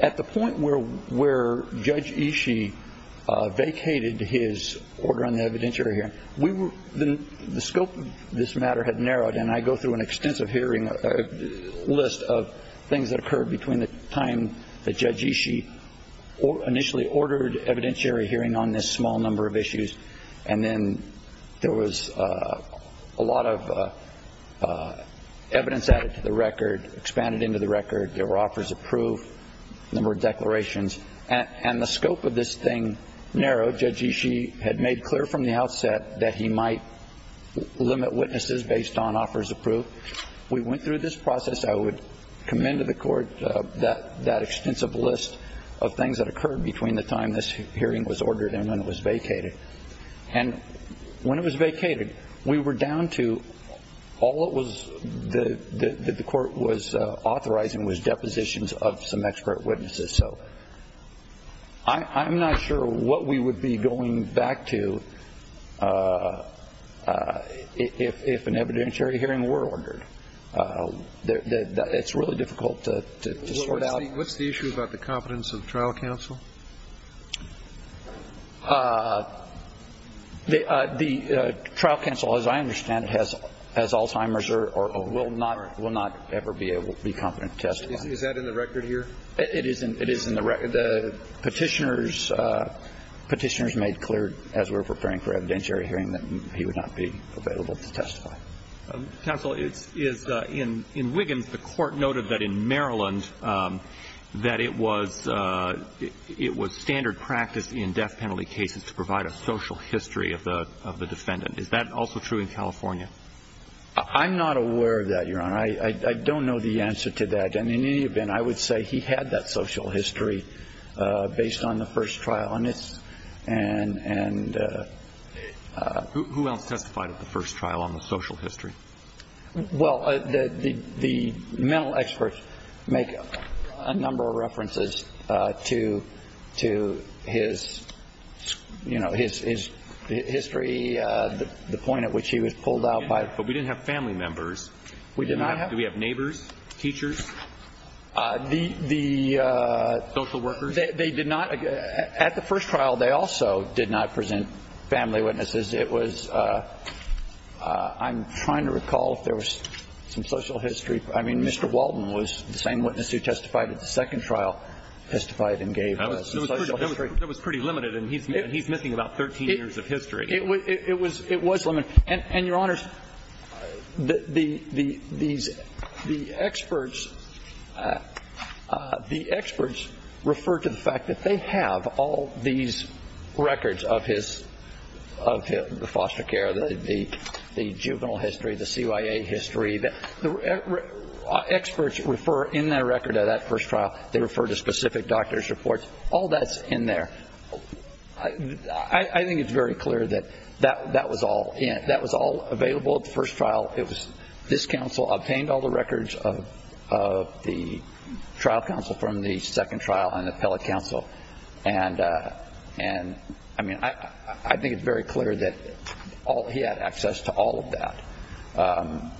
at the point where Judge Ishii vacated his order on the evidentiary hearing, the scope of this matter had narrowed, and I go through an extensive hearing list of things that occurred between the time that Judge Ishii initially ordered evidentiary hearing on this small number of issues, and then there was a lot of evidence added to the record, expanded into the record. There were offers approved, a number of declarations. And the scope of this thing narrowed. Judge Ishii had made clear from the outset that he might limit witnesses based on offers approved. We went through this process. I would commend to the Court that extensive list of things that occurred between the time this hearing was ordered and when it was vacated. And when it was vacated, we were down to all it was that the Court was authorizing was depositions of some expert witnesses. So I'm not sure what we would be going back to if an evidentiary hearing were ordered. It's really difficult to sort out. What's the issue about the competence of trial counsel? The trial counsel, as I understand it, has Alzheimer's or will not ever be able to be competent to testify. Is that in the record here? It is in the record. Petitioners made clear as we were preparing for evidentiary hearing that he would not be available to testify. Counsel, in Wiggins, the Court noted that in Maryland that it was standard practice in death penalty cases to provide a social history of the defendant. Is that also true in California? I'm not aware of that, Your Honor. I don't know the answer to that. And in any event, I would say he had that social history based on the first trial. Who else testified at the first trial on the social history? Well, the mental experts make a number of references to his history, the point at which he was pulled out by... But we didn't have family members. We did not have... Do we have neighbors, teachers, social workers? They did not. At the first trial, they also did not present family witnesses. It was... I'm trying to recall if there was some social history. I mean, Mr. Walden was the same witness who testified at the second trial, testified and gave some social history. That was pretty limited, and he's missing about 13 years of history. It was limited. And, Your Honors, the experts refer to the fact that they have all these records of his, of the foster care, the juvenile history, the CYA history. The experts refer in their record of that first trial, they refer to specific doctor's reports. All that's in there. I think it's very clear that that was all available at the first trial. It was this counsel who obtained all the records of the trial counsel from the second trial and the appellate counsel. And, I mean, I think it's very clear that he had access to all of that.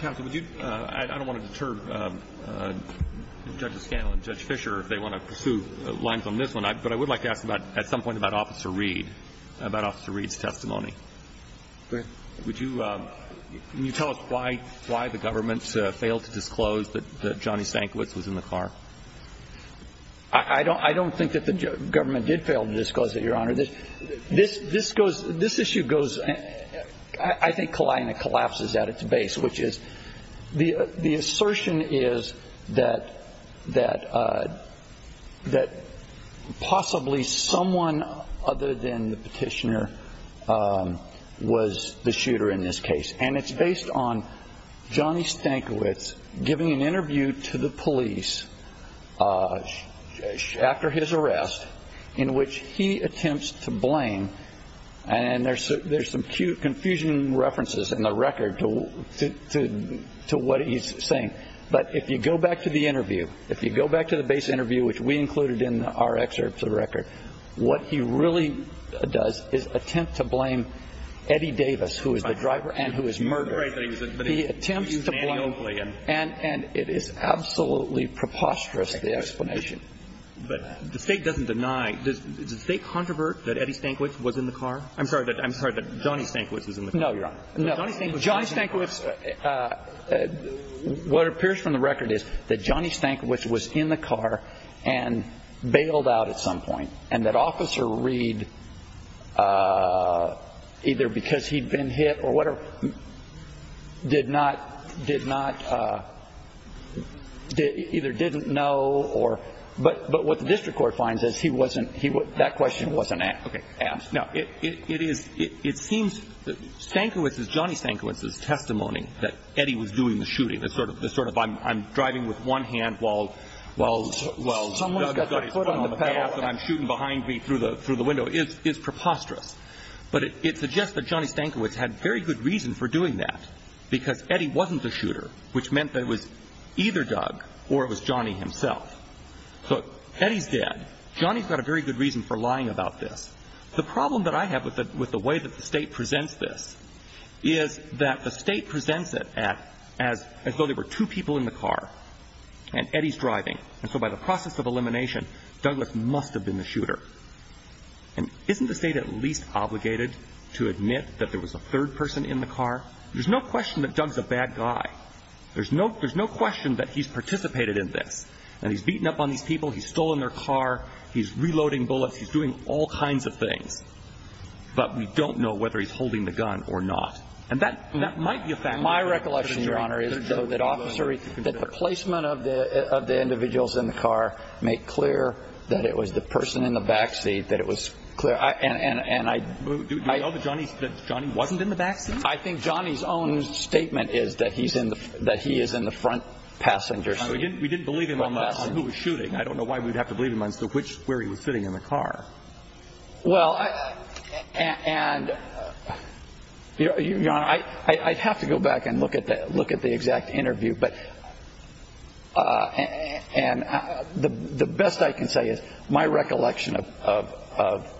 Counsel, would you... I don't want to deter Judge Scanlon and Judge Fischer if they want to pursue lines on this one, but I would like to ask about, at some point, about Officer Reed, about Officer Reed's testimony. Go ahead. Would you... Can you tell us why the government failed to disclose that Johnny Stankiewicz was in the car? I don't think that the government did fail to disclose it, Your Honor. This issue goes, I think, collides and collapses at its base, which is the assertion is that possibly someone other than the petitioner was the shooter in this case. And it's based on Johnny Stankiewicz giving an interview to the police after his arrest in which he attempts to blame... And there's some confusion and references in the record to what he's saying. But if you go back to the interview, if you go back to the base interview, which we included in our excerpt to the record, what he really does is attempt to blame Eddie Davis, who is the driver and who is murdered. He attempts to blame... And it is absolutely preposterous, the explanation. But the State doesn't deny... Does the State controvert that Eddie Stankiewicz was in the car? I'm sorry, that Johnny Stankiewicz was in the car. No, Your Honor. No. Johnny Stankiewicz... And that Officer Reed, either because he'd been hit or whatever, did not, did not, either didn't know or... But what the district court finds is he wasn't... That question wasn't asked. Now, it is... It seems that Stankiewicz's, Johnny Stankiewicz's testimony that Eddie was doing the shooting, the sort of, I'm driving with one hand while Doug got his foot on the gas and I'm shooting behind me through the window, is preposterous. But it suggests that Johnny Stankiewicz had very good reason for doing that, because Eddie wasn't the shooter, which meant that it was either Doug or it was Johnny himself. So, Eddie's dead. Johnny's got a very good reason for lying about this. The problem that I have with the way that the State presents this is that the State presents it as though there were two people in the car and Eddie's driving. And so by the process of elimination, Douglas must have been the shooter. And isn't the State at least obligated to admit that there was a third person in the car? There's no question that Doug's a bad guy. There's no question that he's participated in this. And he's beaten up on these people. He's stolen their car. He's reloading bullets. He's doing all kinds of things. But we don't know whether he's holding the gun or not. And that might be a fact. My recollection, Your Honor, is that the placement of the individuals in the car make clear that it was the person in the backseat that it was clear. Do we know that Johnny wasn't in the backseat? I think Johnny's own statement is that he is in the front passenger seat. We didn't believe him on who was shooting. I don't know why we'd have to believe him on where he was sitting in the car. Well, and, Your Honor, I'd have to go back and look at the exact interview. And the best I can say is my recollection of,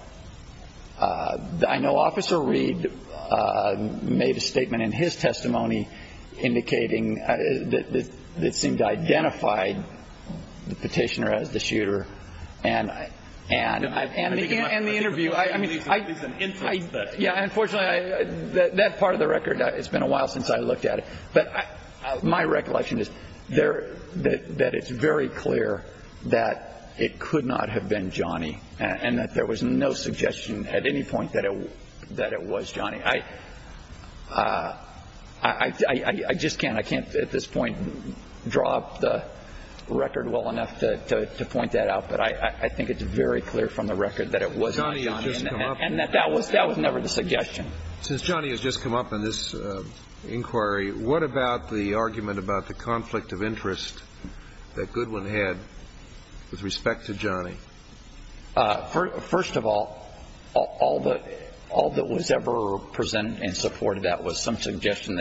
I know Officer Reed made a statement in his testimony indicating that it seemed to identify the petitioner as the shooter. And the interview, I mean, unfortunately, that part of the record, it's been a while since I looked at it. But my recollection is that it's very clear that it could not have been Johnny and that there was no suggestion at any point that it was Johnny. I just can't at this point draw up the record well enough to point that out. But I think it's very clear from the record that it was not Johnny and that that was never the suggestion. Since Johnny has just come up in this inquiry, what about the argument about the conflict of interest that Goodwin had with respect to Johnny? First of all, all that was ever presented and supported, that was some suggestion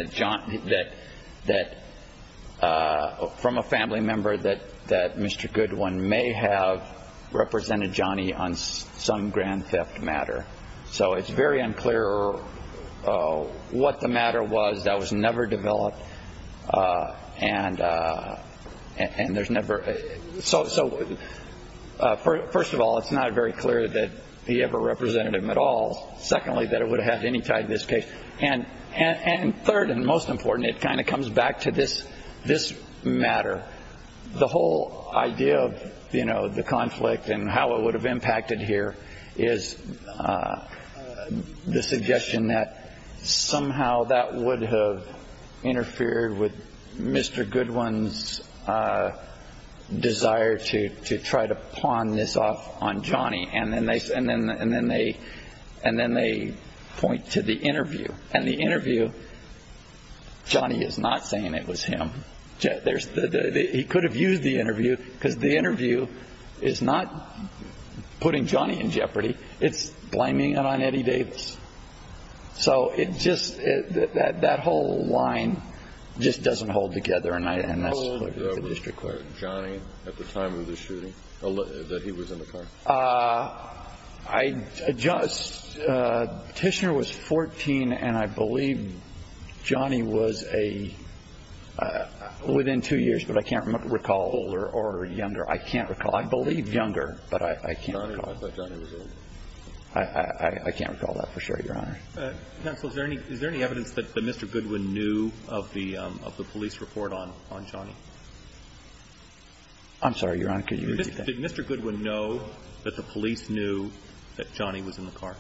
from a family member that Mr. Goodwin may have represented Johnny on some grand theft matter. So it's very unclear what the matter was that was never developed. So first of all, it's not very clear that he ever represented him at all. Secondly, that it would have any tie to this case. And third and most important, it kind of comes back to this matter. The whole idea of the conflict and how it would have impacted here is the suggestion that somehow that would have interfered with Mr. Goodwin's desire to try to pawn this off on Johnny. And then they point to the interview. And the interview, Johnny is not saying it was him. He could have used the interview because the interview is not putting Johnny in jeopardy. It's blaming it on Eddie Davis. So it just that whole line just doesn't hold together. And I don't necessarily agree with the district court. Hold over Johnny at the time of the shooting? That he was in the car? I just, Tishner was 14, and I believe Johnny was a, within two years, but I can't recall older or younger. I can't recall. I believe younger, but I can't recall. I thought Johnny was older. I can't recall that for sure, Your Honor. Counsel, is there any evidence that Mr. Goodwin knew of the police report on Johnny? I'm sorry, Your Honor, could you repeat that? Did Mr. Goodwin know that the police knew that Johnny was in the car?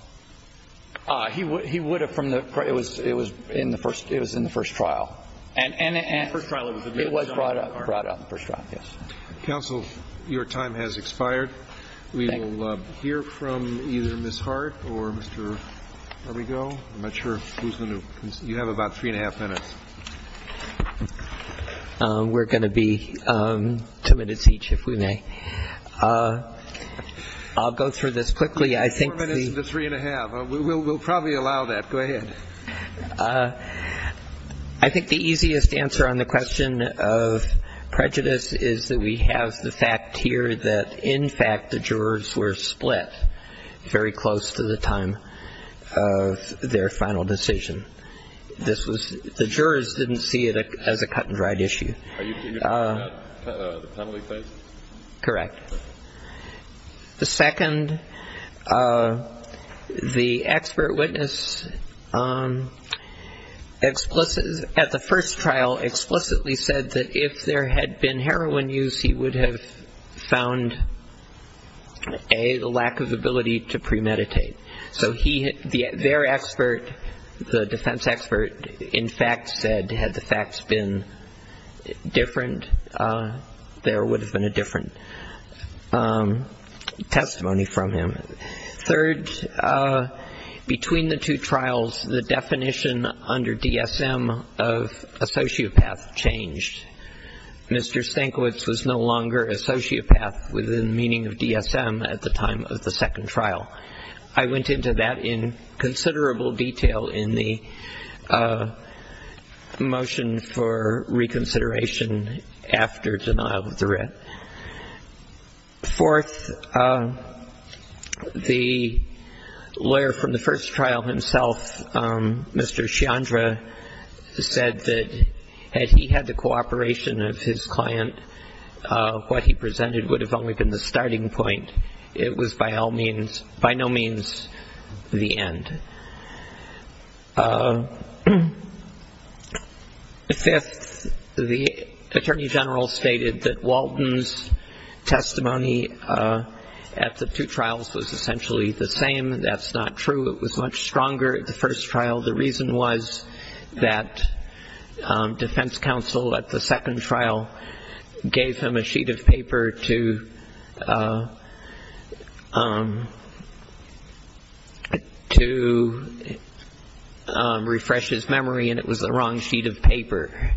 He would have from the, it was in the first trial. In the first trial it was in the car. It was brought up in the first trial, yes. Counsel, your time has expired. Thank you. We'll hear from either Ms. Hart or Mr. Arrigo. I'm not sure who's going to, you have about three and a half minutes. We're going to be two minutes each, if we may. I'll go through this quickly. Four minutes to three and a half. We'll probably allow that. Go ahead. I think the easiest answer on the question of prejudice is that we have the fact here that in fact the jurors were split very close to the time of their final decision. This was, the jurors didn't see it as a cut and dried issue. Are you talking about the penalty phase? Correct. The second, the expert witness at the first trial explicitly said that if there had been heroin use, he would have found A, the lack of ability to premeditate. So their expert, the defense expert, in fact said had the facts been different, there would have been a different testimony from him. Third, between the two trials, the definition under DSM of a sociopath changed. Mr. Stankiewicz was no longer a sociopath within the meaning of DSM at the time of the second trial. I went into that in considerable detail in the motion for reconsideration after denial of the writ. Fourth, the lawyer from the first trial himself, Mr. Chandra, said that had he had the cooperation of his client, what he presented would have only been the starting point. It was by no means the end. Fifth, the attorney general stated that Walton's testimony at the two trials was essentially the same. That's not true. It was much stronger at the first trial. The reason was that defense counsel at the second trial gave him a sheet of paper to refresh his memory, and it was the wrong sheet of paper.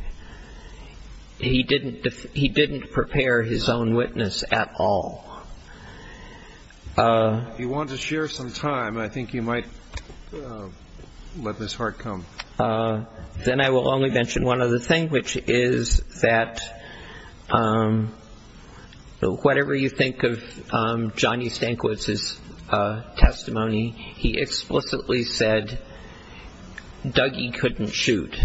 He didn't prepare his own witness at all. If you want to share some time, I think you might let this heart come. Then I will only mention one other thing, which is that whatever you think of Johnny Stankiewicz's testimony, he explicitly said, Dougie couldn't shoot.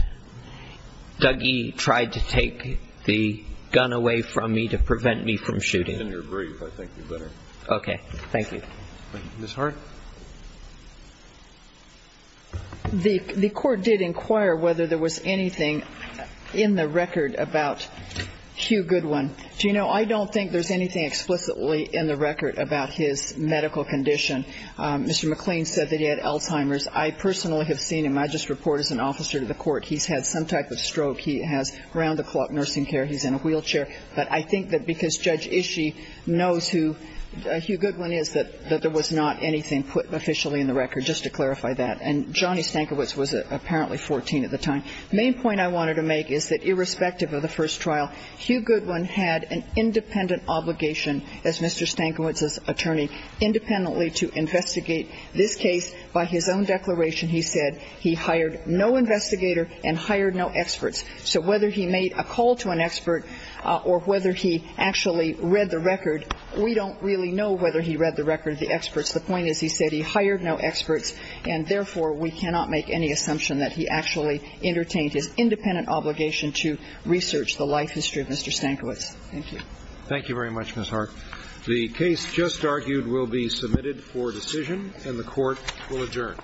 Dougie tried to take the gun away from me to prevent me from shooting. That's in your brief, I think you better. Okay, thank you. Ms. Hart? The court did inquire whether there was anything in the record about Hugh Goodwin. Do you know, I don't think there is anything explicitly in the record about his medical condition. Mr. McLean said that he had Alzheimer's. I personally have seen him. I just report as an officer to the court. He's had some type of stroke. He has round-the-clock nursing care. He's in a wheelchair. But I think that because Judge Ishii knows who Hugh Goodwin is, that there was not anything put officially in the record, just to clarify that. And Johnny Stankiewicz was apparently 14 at the time. The main point I wanted to make is that irrespective of the first trial, Hugh Goodwin had an independent obligation as Mr. Stankiewicz's attorney, independently to investigate this case by his own declaration. He said he hired no investigator and hired no experts. So whether he made a call to an expert or whether he actually read the record, we don't really know whether he read the record of the experts. The point is he said he hired no experts, and therefore, we cannot make any assumption that he actually entertained his independent obligation to research the life history of Mr. Stankiewicz. Thank you. Thank you very much, Ms. Hart. The case just argued will be submitted for decision, and the Court will adjourn. All rise.